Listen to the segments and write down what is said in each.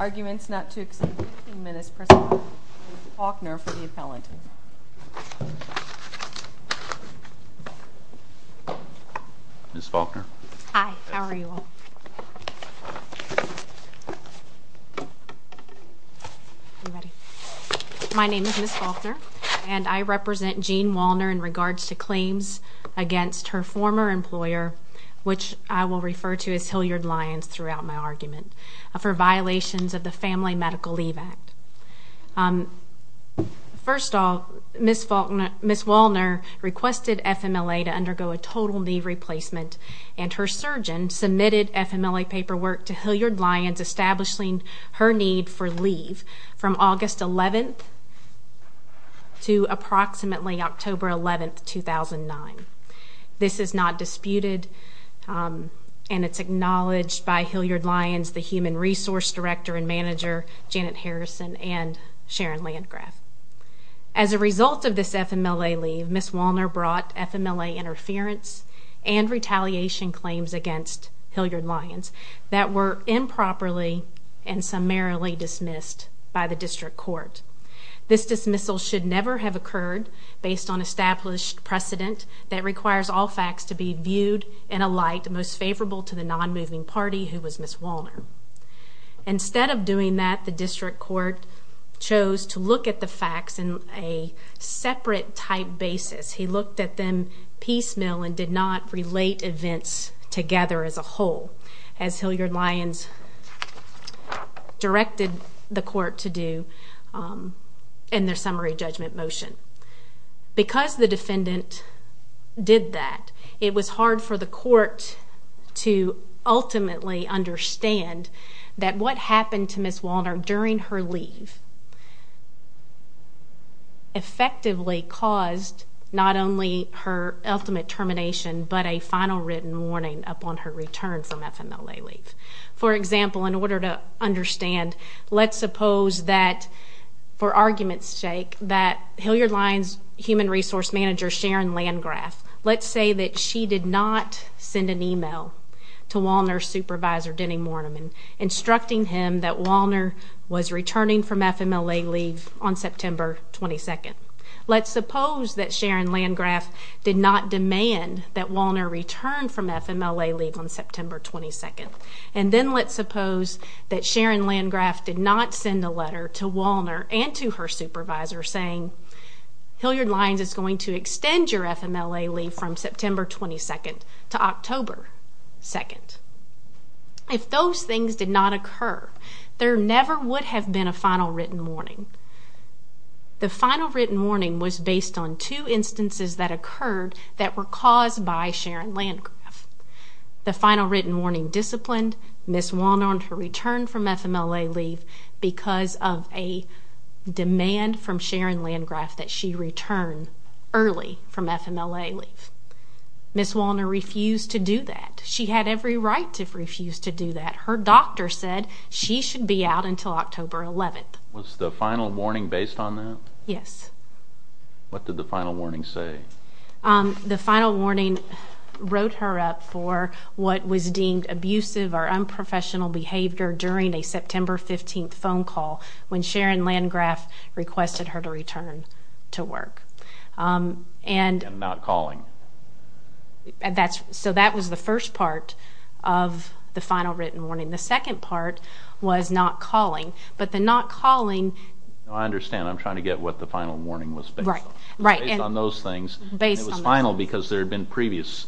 Arguments not to exceed 15 minutes per side, Ms. Faulkner for the appellant. Ms. Faulkner. Hi, how are you all? My name is Ms. Faulkner and I represent Jeanne Wallner in regards to claims against her former employer, which I will refer to as Hilliard Lyons throughout my argument, for violations of the Family Medical Leave Act. First of all, Ms. Faulkner, Ms. Wallner requested FMLA to undergo a total knee replacement and her surgeon submitted FMLA paperwork to Hilliard Lyons establishing her need for leave from August 11th to approximately October 11th, 2009. This is not disputed and it's acknowledged by Hilliard Lyons, the Human Resource Director and Manager, Janet Harrison, and Sharon Landgraf. As a result of this FMLA leave, Ms. Wallner brought FMLA interference and retaliation claims against Hilliard Lyons that were improperly and summarily dismissed by the district court. This dismissal should never have occurred based on established precedent that requires all facts to be viewed in a light most favorable to the non-moving party who was Ms. Wallner. Instead of doing that, the district court chose to look at the facts in a separate type basis. He looked at them piecemeal and did not relate events together as a whole, as Hilliard Lyons directed the court to do in their summary judgment motion. Because the defendant did that, it was hard for the court to ultimately understand that what happened to Ms. Wallner during her leave effectively caused not only her ultimate termination but a final written warning upon her return from FMLA leave. For example, in order to understand, let's suppose that, for argument's sake, that Hilliard Lyons' Human Resource Manager, Sharon Landgraf, let's say that she did not send an email to Wallner's supervisor, Denny Morneman, instructing him that Wallner was returning from FMLA leave on September 22nd. Let's suppose that Sharon Landgraf did not demand that Wallner return from FMLA leave on September 22nd. And then let's suppose that Sharon Landgraf did not send a letter to Wallner and to her supervisor saying, Hilliard Lyons is going to extend your FMLA leave from September 22nd to October 2nd. If those things did not occur, there never would have been a final written warning. The final written warning was based on two instances that occurred that were caused by Sharon Landgraf. The final written warning disciplined Ms. Wallner on her return from FMLA leave because of a demand from Sharon Landgraf that she return early from FMLA leave. Ms. Wallner refused to do that. She had every right to refuse to do that. Her doctor said she should be out until October 11th. Was the final warning based on that? Yes. What did the final warning say? The final warning wrote her up for what was deemed abusive or unprofessional behavior during a September 15th phone call when Sharon Landgraf requested her to return to work. And not calling. So that was the first part of the final written warning. The second part was not calling. But the not calling... I understand. I'm trying to get what the final warning was based on. Right. Based on those things. It was final because there had been previous...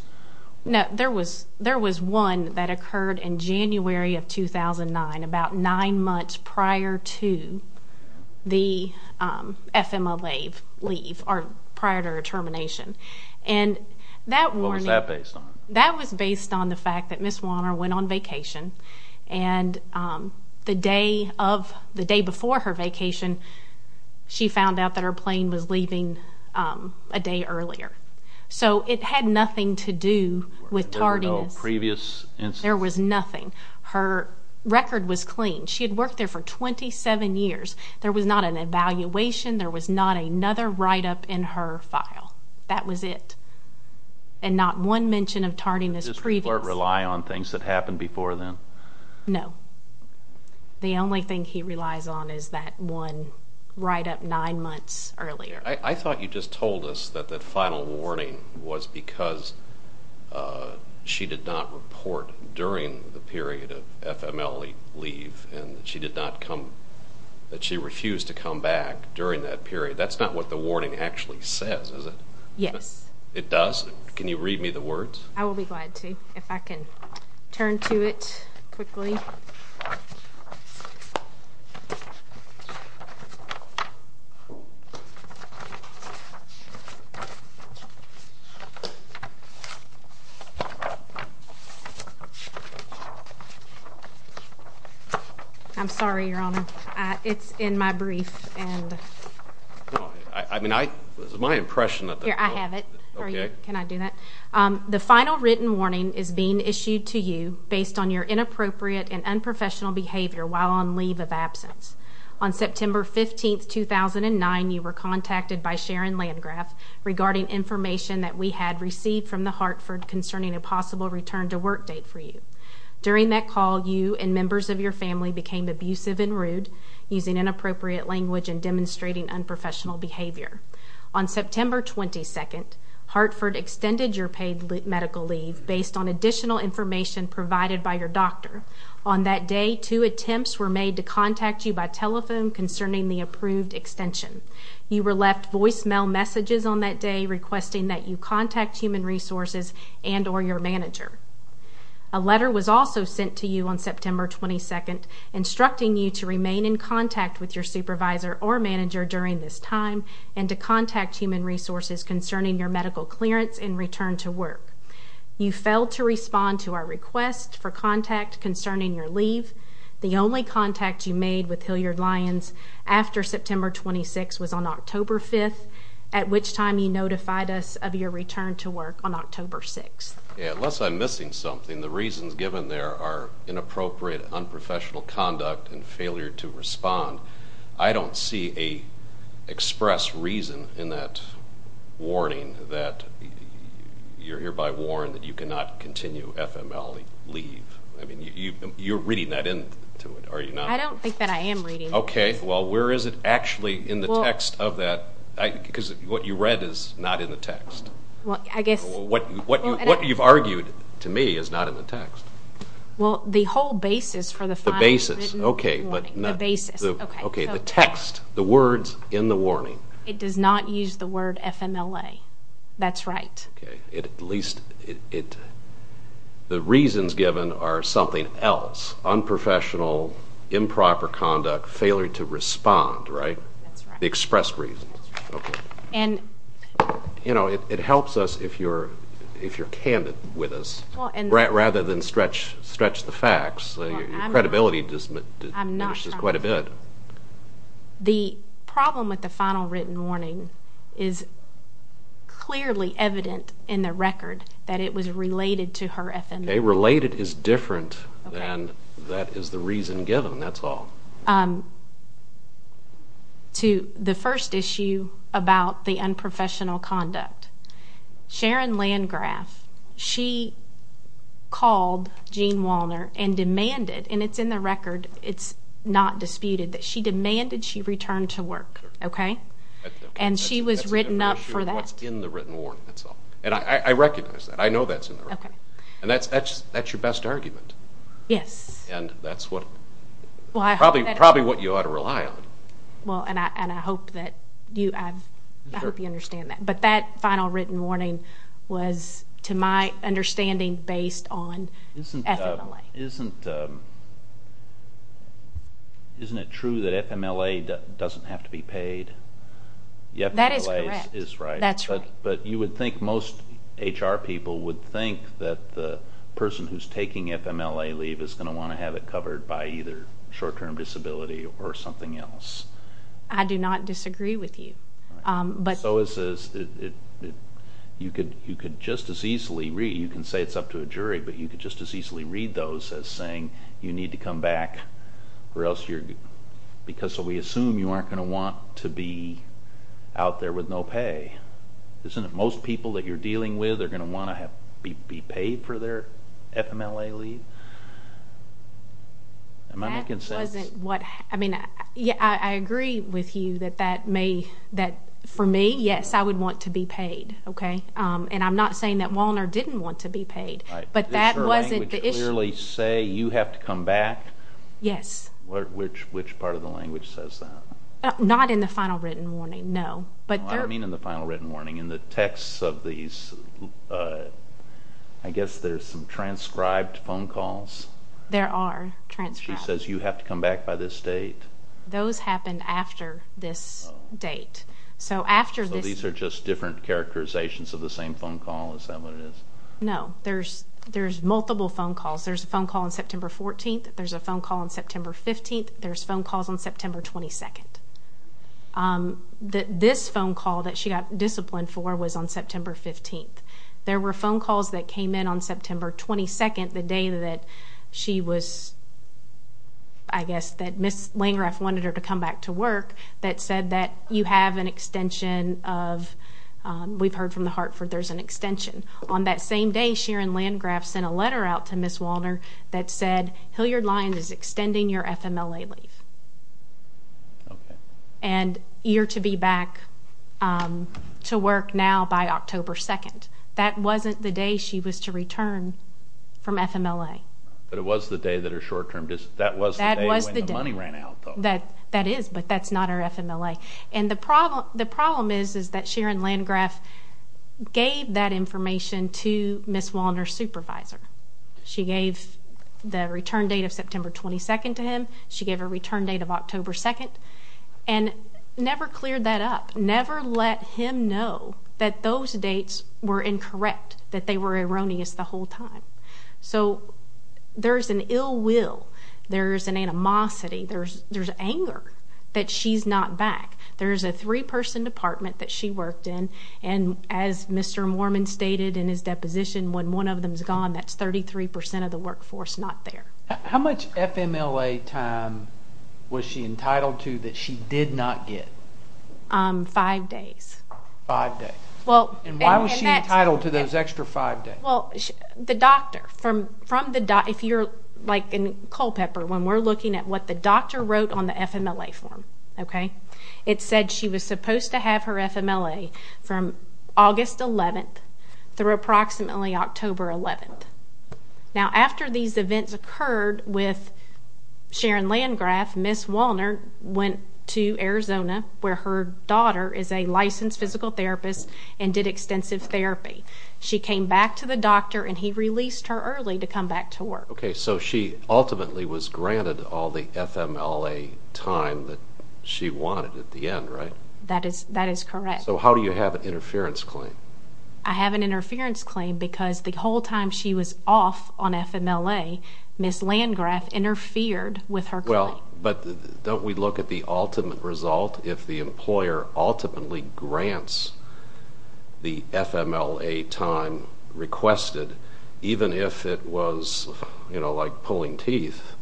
No. There was one that occurred in January of 2009, about nine months prior to the FMLA leave or prior to her termination. And that warning... What was that based on? That was based on the fact that Ms. Wallner went on vacation, and the day before her vacation, she found out that her plane was leaving a day earlier. So it had nothing to do with tardiness. There were no previous incidents? There was nothing. Her record was clean. She had worked there for 27 years. There was not an evaluation. There was not another write-up in her file. That was it. And not one mention of tardiness previous. Did Mr. Blair rely on things that happened before then? No. The only thing he relies on is that one write-up nine months earlier. I thought you just told us that the final warning was because she did not report during the period of FMLA leave and that she refused to come back during that period. That's not what the warning actually says, is it? Yes. It does? Can you read me the words? I will be glad to, if I can turn to it quickly. I'm sorry, Your Honor. It's in my brief. This is my impression. I have it. Can I do that? The final written warning is being issued to you based on your inappropriate and unprofessional behavior while on leave of absence. On September 15, 2009, you were contacted by Sharon Landgraf regarding information that we had received from the Hartford concerning a possible return to work date for you. During that call, you and members of your family became abusive and rude, using inappropriate language and demonstrating unprofessional behavior. On September 22, Hartford extended your paid medical leave based on additional information provided by your doctor. On that day, two attempts were made to contact you by telephone concerning the approved extension. You were left voicemail messages on that day requesting that you contact Human Resources and or your manager. A letter was also sent to you on September 22, instructing you to remain in contact with your supervisor or manager during this time and to contact Human Resources concerning your medical clearance and return to work. You failed to respond to our request for contact concerning your leave. The only contact you made with Hilliard-Lyons after September 26 was on October 5, at which time you notified us of your return to work on October 6. Unless I'm missing something, the reasons given there are inappropriate, unprofessional conduct and failure to respond. I don't see an express reason in that warning that you're hereby warned that you cannot continue FML leave. I mean, you're reading that into it, are you not? I don't think that I am reading it. Okay, well, where is it actually in the text of that? Because what you read is not in the text. What you've argued to me is not in the text. Well, the whole basis for the final written warning. The basis, okay. The basis, okay. Okay, the text, the words in the warning. It does not use the word FMLA. That's right. Okay, at least the reasons given are something else. Unprofessional, improper conduct, failure to respond, right? That's right. The expressed reasons. You know, it helps us if you're candid with us rather than stretch the facts. Your credibility diminishes quite a bit. The problem with the final written warning is clearly evident in the record that it was related to her FMLA. Okay, related is different than that is the reason given, that's all. To the first issue about the unprofessional conduct, Sharon Landgraf, she called Gene Walner and demanded, and it's in the record, it's not disputed, that she demanded she return to work, okay? And she was written up for that. That's a different issue than what's in the written warning, that's all. And I recognize that. I know that's in the record. Okay. And that's your best argument. Yes. And that's probably what you ought to rely on. Well, and I hope that you understand that. But that final written warning was, to my understanding, based on FMLA. Isn't it true that FMLA doesn't have to be paid? That is correct. FMLA is right. That's right. But you would think most HR people would think that the person who's taking FMLA leave is going to want to have it covered by either short-term disability or something else. I do not disagree with you. So is this. You could just as easily read. You can say it's up to a jury, but you could just as easily read those as saying you need to come back or else you're going to go. Isn't it out there with no pay? Isn't it most people that you're dealing with are going to want to be paid for their FMLA leave? Am I making sense? That wasn't what. I mean, I agree with you that for me, yes, I would want to be paid. Okay. And I'm not saying that Walner didn't want to be paid, but that wasn't the issue. Does your language clearly say you have to come back? Yes. Which part of the language says that? Not in the final written warning, no. I don't mean in the final written warning. In the texts of these, I guess there's some transcribed phone calls. There are transcribed. She says you have to come back by this date. Those happen after this date. So after this. So these are just different characterizations of the same phone call, is that what it is? No. There's multiple phone calls. There's a phone call on September 14th. There's a phone call on September 15th. There's phone calls on September 22nd. This phone call that she got disciplined for was on September 15th. There were phone calls that came in on September 22nd, the day that she was, I guess, that Ms. Landgraf wanted her to come back to work, that said that you have an extension of, we've heard from the Hartford, there's an extension. On that same day, Sharon Landgraf sent a letter out to Ms. Walner that said, Hilliard-Lyons is extending your FMLA leave. Okay. And you're to be back to work now by October 2nd. That wasn't the day she was to return from FMLA. But it was the day that her short-term dis- That was the day when the money ran out, though. That is, but that's not her FMLA. And the problem is that Sharon Landgraf gave that information to Ms. Walner's supervisor. She gave the return date of September 22nd to him. She gave a return date of October 2nd, and never cleared that up, never let him know that those dates were incorrect, that they were erroneous the whole time. So there's an ill will. There's an animosity. There's anger that she's not back. There's a three-person department that she worked in, and as Mr. Mormon stated in his deposition, when one of them's gone, that's 33% of the workforce not there. How much FMLA time was she entitled to that she did not get? Five days. Five days. And why was she entitled to those extra five days? Well, the doctor, if you're like in Culpeper, when we're looking at what the doctor wrote on the FMLA form, okay, it said she was supposed to have her FMLA from August 11th through approximately October 11th. Now, after these events occurred with Sharon Landgraf, Ms. Walner went to Arizona, where her daughter is a licensed physical therapist and did extensive therapy. She came back to the doctor, and he released her early to come back to work. Okay, so she ultimately was granted all the FMLA time that she wanted at the end, right? That is correct. So how do you have an interference claim? I have an interference claim because the whole time she was off on FMLA, Ms. Landgraf interfered with her claim. Well, but don't we look at the ultimate result? If the employer ultimately grants the FMLA time requested, even if it was, you know, like pulling teeth,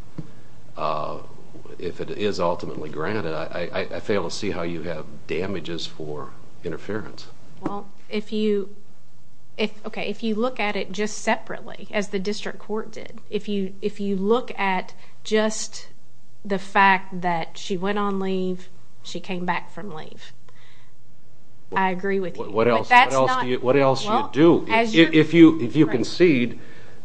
if it is ultimately granted, I fail to see how you have damages for interference. Well, if you look at it just separately, as the district court did, if you look at just the fact that she went on leave, she came back from leave. I agree with you. What else do you do? If you concede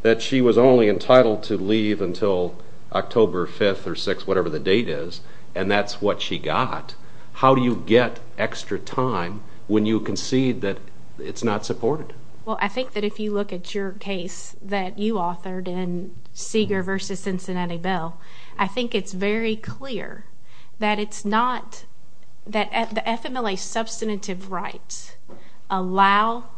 that she was only entitled to leave until October 5th or 6th, whatever the date is, and that's what she got, how do you get extra time when you concede that it's not supported? Well, I think that if you look at your case that you authored in Seeger v. Cincinnati Bell, I think it's very clear that it's not that the FMLA substantive rights allow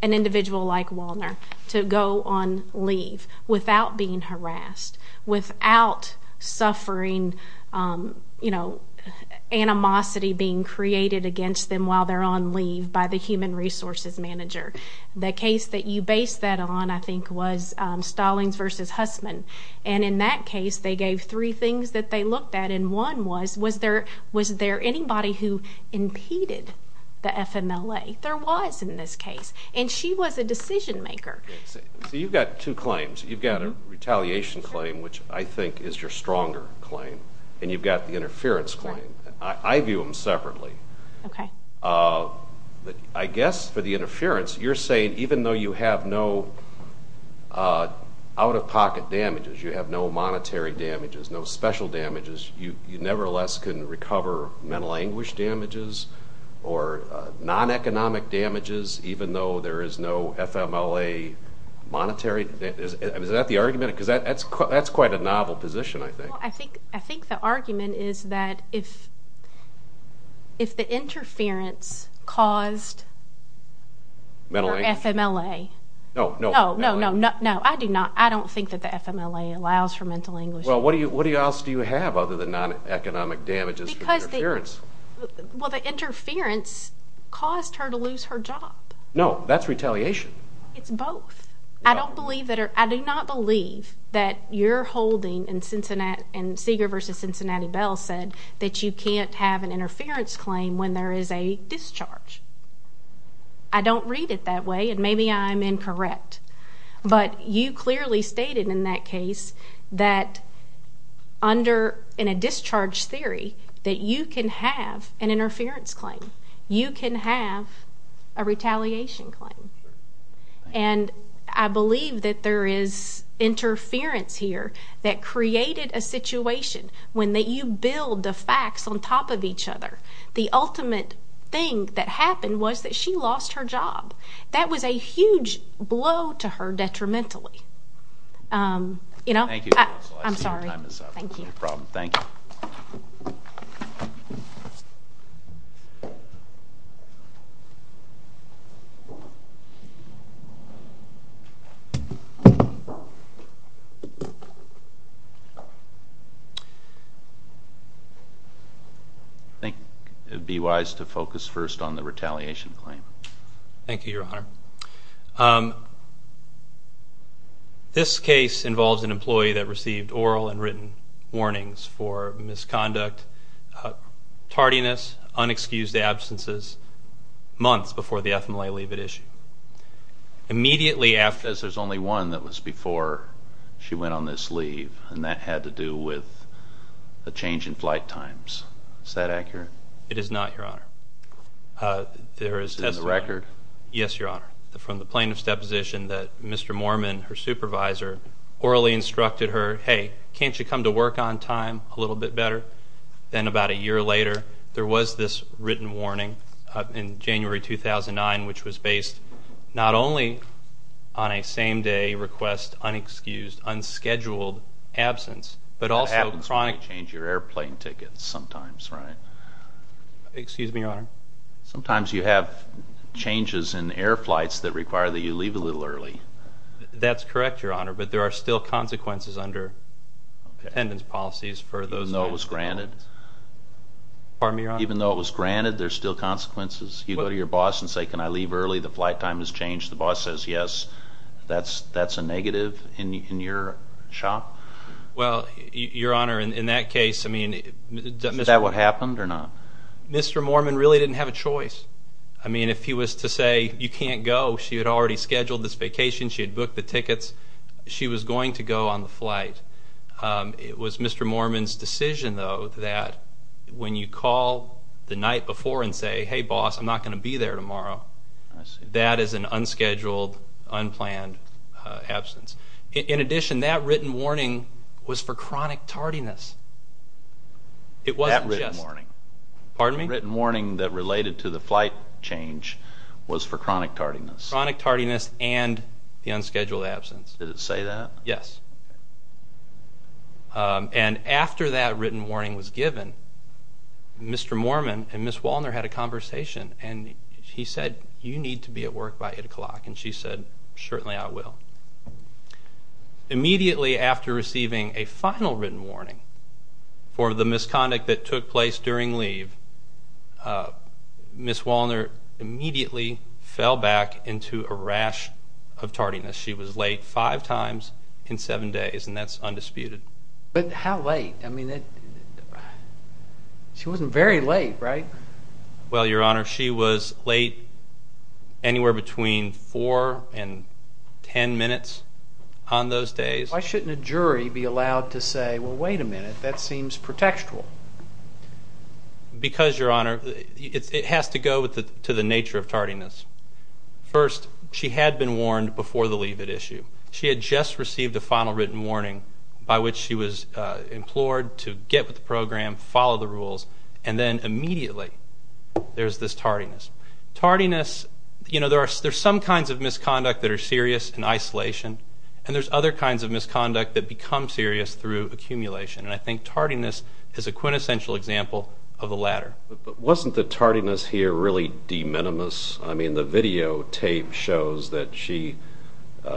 an individual like Walner to go on leave without being harassed, without suffering, you know, animosity being created against them while they're on leave by the human resources manager. The case that you based that on, I think, was Stallings v. Hussman. And in that case, they gave three things that they looked at, and one was, was there anybody who impeded the FMLA? There was in this case, and she was a decision maker. So you've got two claims. You've got a retaliation claim, which I think is your stronger claim, and you've got the interference claim. I view them separately. I guess for the interference, you're saying, even though you have no out-of-pocket damages, you have no monetary damages, no special damages, you nevertheless can recover mental anguish damages or non-economic damages even though there is no FMLA monetary? Is that the argument? Because that's quite a novel position, I think. I think the argument is that if the interference caused for FMLA. No, no. No, no, no, no, I do not. I don't think that the FMLA allows for mental anguish. Well, what else do you have other than non-economic damages for the interference? Well, the interference caused her to lose her job. No, that's retaliation. It's both. I do not believe that you're holding, and Seeger v. Cincinnati Bell said, that you can't have an interference claim when there is a discharge. I don't read it that way, and maybe I'm incorrect. But you clearly stated in that case that in a discharge theory that you can have an interference claim. You can have a retaliation claim. And I believe that there is interference here that created a situation when you build the facts on top of each other. The ultimate thing that happened was that she lost her job. That was a huge blow to her detrimentally. Thank you. I'm sorry. No problem. Thank you. I think it would be wise to focus first on the retaliation claim. Thank you, Your Honor. This case involves an employee that received oral and written warnings for misconduct, tardiness, unexcused absences, months before the FMLA leave had issued. There's only one that was before she went on this leave, and that had to do with a change in flight times. Is that accurate? It is not, Your Honor. In the record? Yes, Your Honor. From the plaintiff's deposition that Mr. Moorman, her supervisor, orally instructed her, hey, can't you come to work on time a little bit better? Then about a year later, there was this written warning in January 2009 which was based not only on a same-day request, unexcused, unscheduled absence, but also chronic. That happens when you change your airplane tickets sometimes, right? Excuse me, Your Honor. Sometimes you have changes in air flights that require that you leave a little early. That's correct, Your Honor, but there are still consequences under attendance policies for those. Even though it was granted? Pardon me, Your Honor. Even though it was granted, there are still consequences? You go to your boss and say, can I leave early? The flight time has changed. The boss says yes. That's a negative in your shop? Well, Your Honor, in that case, I mean, Mr. Moorman. Mr. Moorman really didn't have a choice. I mean, if he was to say, you can't go, she had already scheduled this vacation, she had booked the tickets, she was going to go on the flight. It was Mr. Moorman's decision, though, that when you call the night before and say, hey, boss, I'm not going to be there tomorrow, that is an unscheduled, unplanned absence. In addition, that written warning was for chronic tardiness. It wasn't just. That written warning. Pardon me? The written warning that related to the flight change was for chronic tardiness. Chronic tardiness and the unscheduled absence. Did it say that? Yes. And after that written warning was given, Mr. Moorman and Ms. Walner had a conversation, and he said, you need to be at work by 8 o'clock, and she said, certainly I will. Immediately after receiving a final written warning for the misconduct that took place during leave, Ms. Walner immediately fell back into a rash of tardiness. She was late five times in seven days, and that's undisputed. But how late? She wasn't very late, right? Well, Your Honor, she was late anywhere between four and ten minutes on those days. Why shouldn't a jury be allowed to say, well, wait a minute, that seems pretextual? Because, Your Honor, it has to go to the nature of tardiness. First, she had been warned before the leave-it issue. She had just received a final written warning by which she was implored to get with the program, follow the rules, and then immediately there's this tardiness. Tardiness, you know, there's some kinds of misconduct that are serious in isolation, and there's other kinds of misconduct that become serious through accumulation, and I think tardiness is a quintessential example of the latter. But wasn't the tardiness here really de minimis? I mean, the videotape shows that she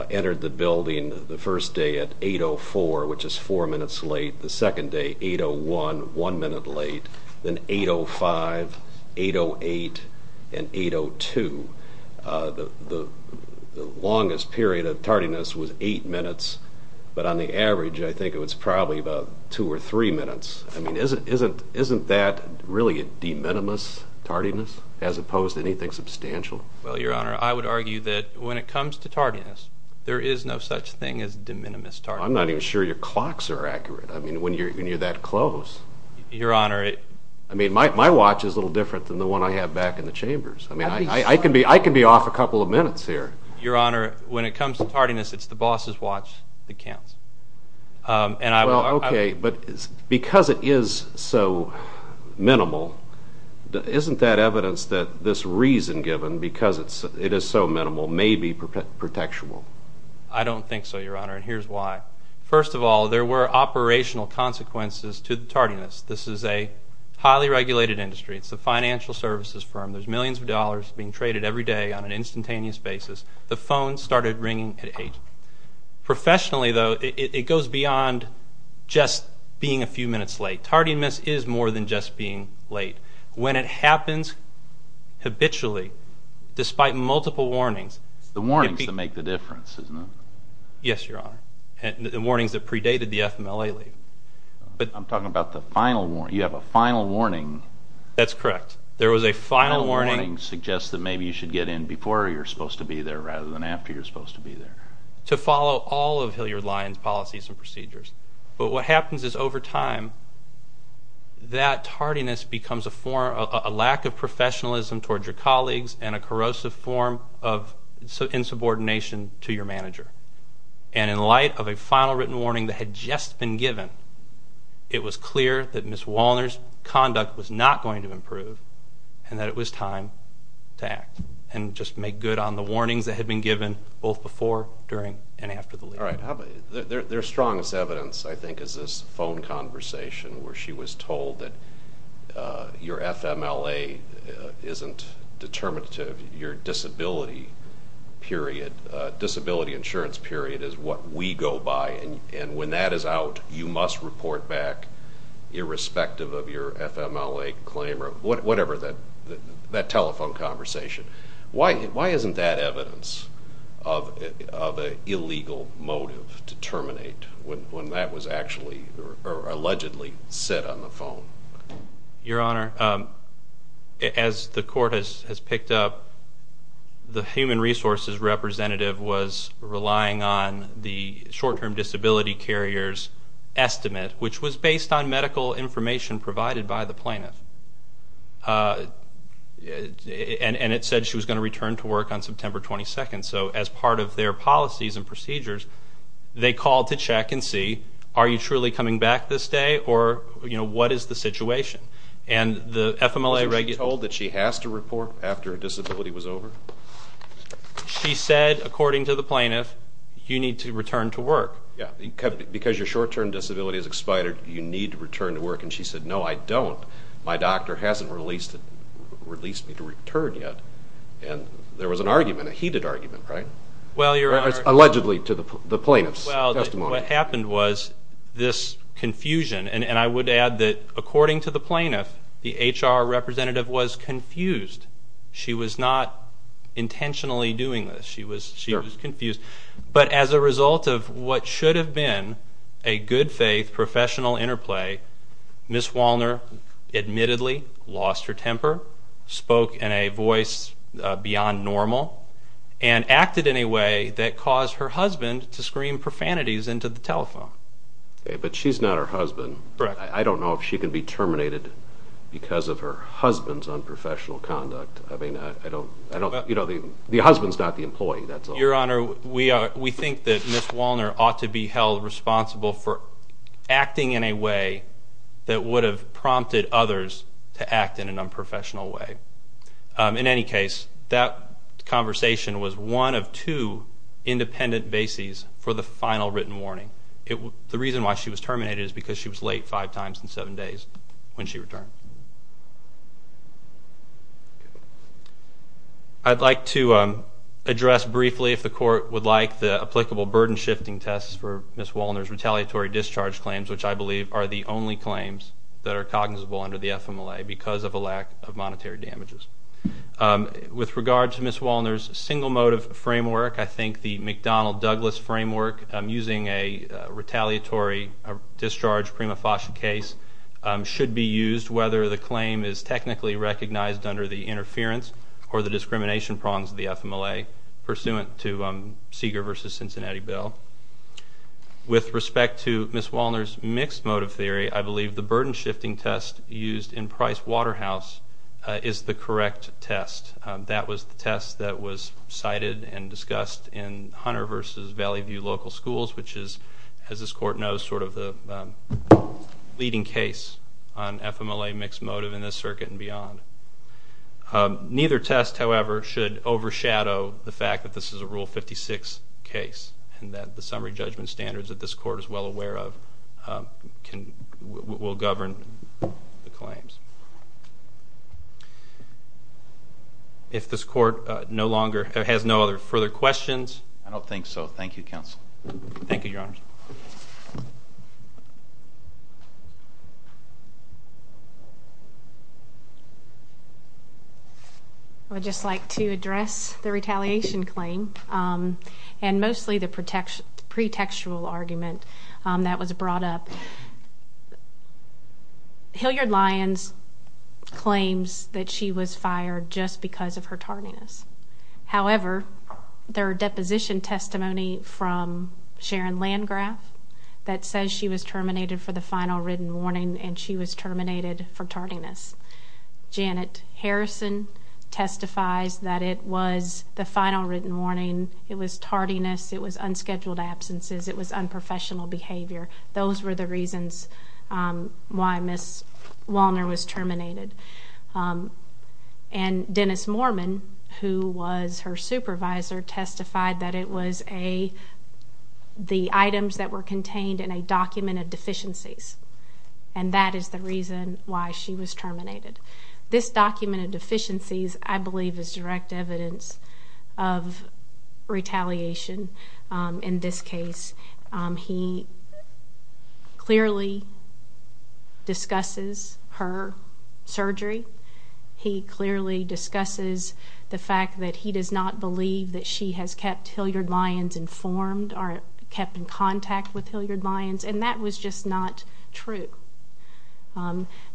entered the building the first day at 8.04, which is four minutes late. The second day, 8.01, one minute late. Then 8.05, 8.08, and 8.02. The longest period of tardiness was eight minutes, but on the average, I think it was probably about two or three minutes. I mean, isn't that really a de minimis tardiness as opposed to anything substantial? Well, Your Honor, I would argue that when it comes to tardiness, there is no such thing as de minimis tardiness. I'm not even sure your clocks are accurate. I mean, when you're that close. Your Honor. I mean, my watch is a little different than the one I have back in the chambers. I mean, I can be off a couple of minutes here. Your Honor, when it comes to tardiness, it's the boss's watch that counts. Well, okay, but because it is so minimal, isn't that evidence that this reason given, because it is so minimal, may be protectual? I don't think so, Your Honor, and here's why. First of all, there were operational consequences to the tardiness. This is a highly regulated industry. It's a financial services firm. There's millions of dollars being traded every day on an instantaneous basis. The phones started ringing at 8. Professionally, though, it goes beyond just being a few minutes late. Tardiness is more than just being late. When it happens habitually, despite multiple warnings. The warnings that make the difference, isn't it? Yes, Your Honor, and the warnings that predated the FMLA leave. I'm talking about the final warning. You have a final warning. That's correct. There was a final warning. The final warning suggests that maybe you should get in before you're supposed to be there rather than after you're supposed to be there. To follow all of Hilliard-Lyon's policies and procedures, but what happens is over time that tardiness becomes a lack of professionalism towards your colleagues and a corrosive form of insubordination to your manager. In light of a final written warning that had just been given, it was clear that Ms. Walner's conduct was not going to improve and that it was time to act and just make good on the warnings that had been given both before, during, and after the leave. Their strongest evidence, I think, is this phone conversation where she was told that your FMLA isn't determinative, your disability period, disability insurance period is what we go by, and when that is out, you must report back irrespective of your FMLA claim or whatever that telephone conversation. Why isn't that evidence of an illegal motive to terminate when that was actually or allegedly said on the phone? Your Honor, as the court has picked up, the human resources representative was relying on the short-term disability carrier's estimate, which was based on medical information provided by the plaintiff, and it said she was going to return to work on September 22nd. So as part of their policies and procedures, they called to check and see, are you truly coming back this day or what is the situation? Was she told that she has to report after her disability was over? She said, according to the plaintiff, you need to return to work. Because your short-term disability has expired, you need to return to work, and she said, no, I don't. My doctor hasn't released me to return yet. And there was an argument, a heated argument, right? Allegedly to the plaintiff's testimony. What happened was this confusion, and I would add that according to the plaintiff, the HR representative was confused. She was not intentionally doing this. She was confused. But as a result of what should have been a good-faith professional interplay, Ms. Walner admittedly lost her temper, spoke in a voice beyond normal, and acted in a way that caused her husband to scream profanities into the telephone. But she's not her husband. I don't know if she can be terminated because of her husband's unprofessional conduct. I mean, the husband's not the employee. Your Honor, we think that Ms. Walner ought to be held responsible for acting in a way that would have prompted others to act in an unprofessional way. In any case, that conversation was one of two independent bases for the final written warning. The reason why she was terminated is because she was late five times in seven days when she returned. I'd like to address briefly, if the Court would like, the applicable burden-shifting tests for Ms. Walner's retaliatory discharge claims, which I believe are the only claims that are cognizable under the FMLA because of a lack of monetary damages. With regard to Ms. Walner's single motive framework, I think the McDonnell-Douglas framework using a retaliatory discharge prima facie case should be used whether the claim is technically recognized under the interference or the discrimination prongs of the FMLA pursuant to Seeger v. Cincinnati Bill. With respect to Ms. Walner's mixed motive theory, I believe the burden-shifting test used in Price Waterhouse is the correct test. That was the test that was cited and discussed in Hunter v. Valley View Local Schools, which is, as this Court knows, sort of the leading case on FMLA mixed motive in this circuit and beyond. Neither test, however, should overshadow the fact that this is a Rule 56 case and that the summary judgment standards that this Court is well aware of will govern the claims. If this Court has no further questions... I don't think so. Thank you, Counsel. Thank you, Your Honors. I would just like to address the retaliation claim and mostly the pretextual argument that was brought up. Hilliard-Lyons claims that she was fired just because of her tardiness. However, there are deposition testimony from Sharon Landgraf that says she was terminated for the final written warning and she was terminated for tardiness. Janet Harrison testifies that it was the final written warning, it was tardiness, it was unscheduled absences, it was unprofessional behavior. Those were the reasons why Ms. Walner was terminated. And Dennis Moorman, who was her supervisor, testified that it was the items that were contained in a document of deficiencies. And that is the reason why she was terminated. This document of deficiencies, I believe, is direct evidence of retaliation in this case. He clearly discusses her surgery. He clearly discusses the fact that he does not believe that she has kept Hilliard-Lyons informed or kept in contact with Hilliard-Lyons. And that was just not true.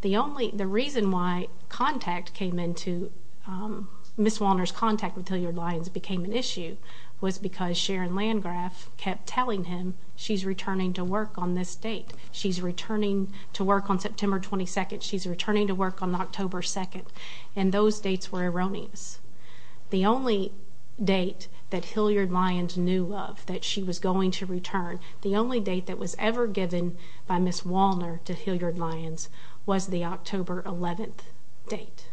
The reason why Ms. Walner's contact with Hilliard-Lyons became an issue was because Sharon Landgraf kept telling him she's returning to work on this date. She's returning to work on September 22nd. She's returning to work on October 2nd. And those dates were erroneous. The only date that Hilliard-Lyons knew of that she was going to return, the only date that was ever given by Ms. Walner to Hilliard-Lyons was the October 11th date.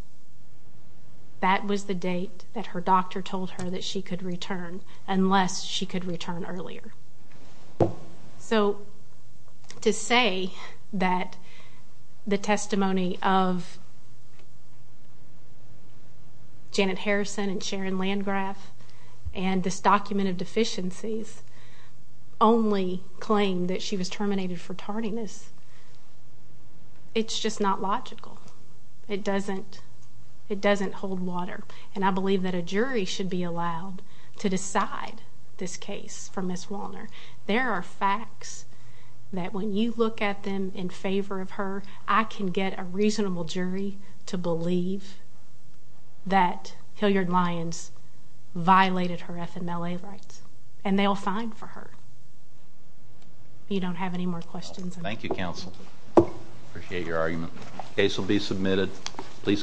That was the date that her doctor told her that she could return unless she could return earlier. So to say that the testimony of Janet Harrison and Sharon Landgraf and this document of deficiencies only claim that she was terminated for tardiness, it's just not logical. It doesn't hold water. And I believe that a jury should be allowed to decide this case for Ms. Walner. There are facts that when you look at them in favor of her, I can get a reasonable jury to believe that Hilliard-Lyons violated her FMLA rights, and they'll fine for her. If you don't have any more questions. Thank you, counsel. I appreciate your argument. The case will be submitted. Please call the next case.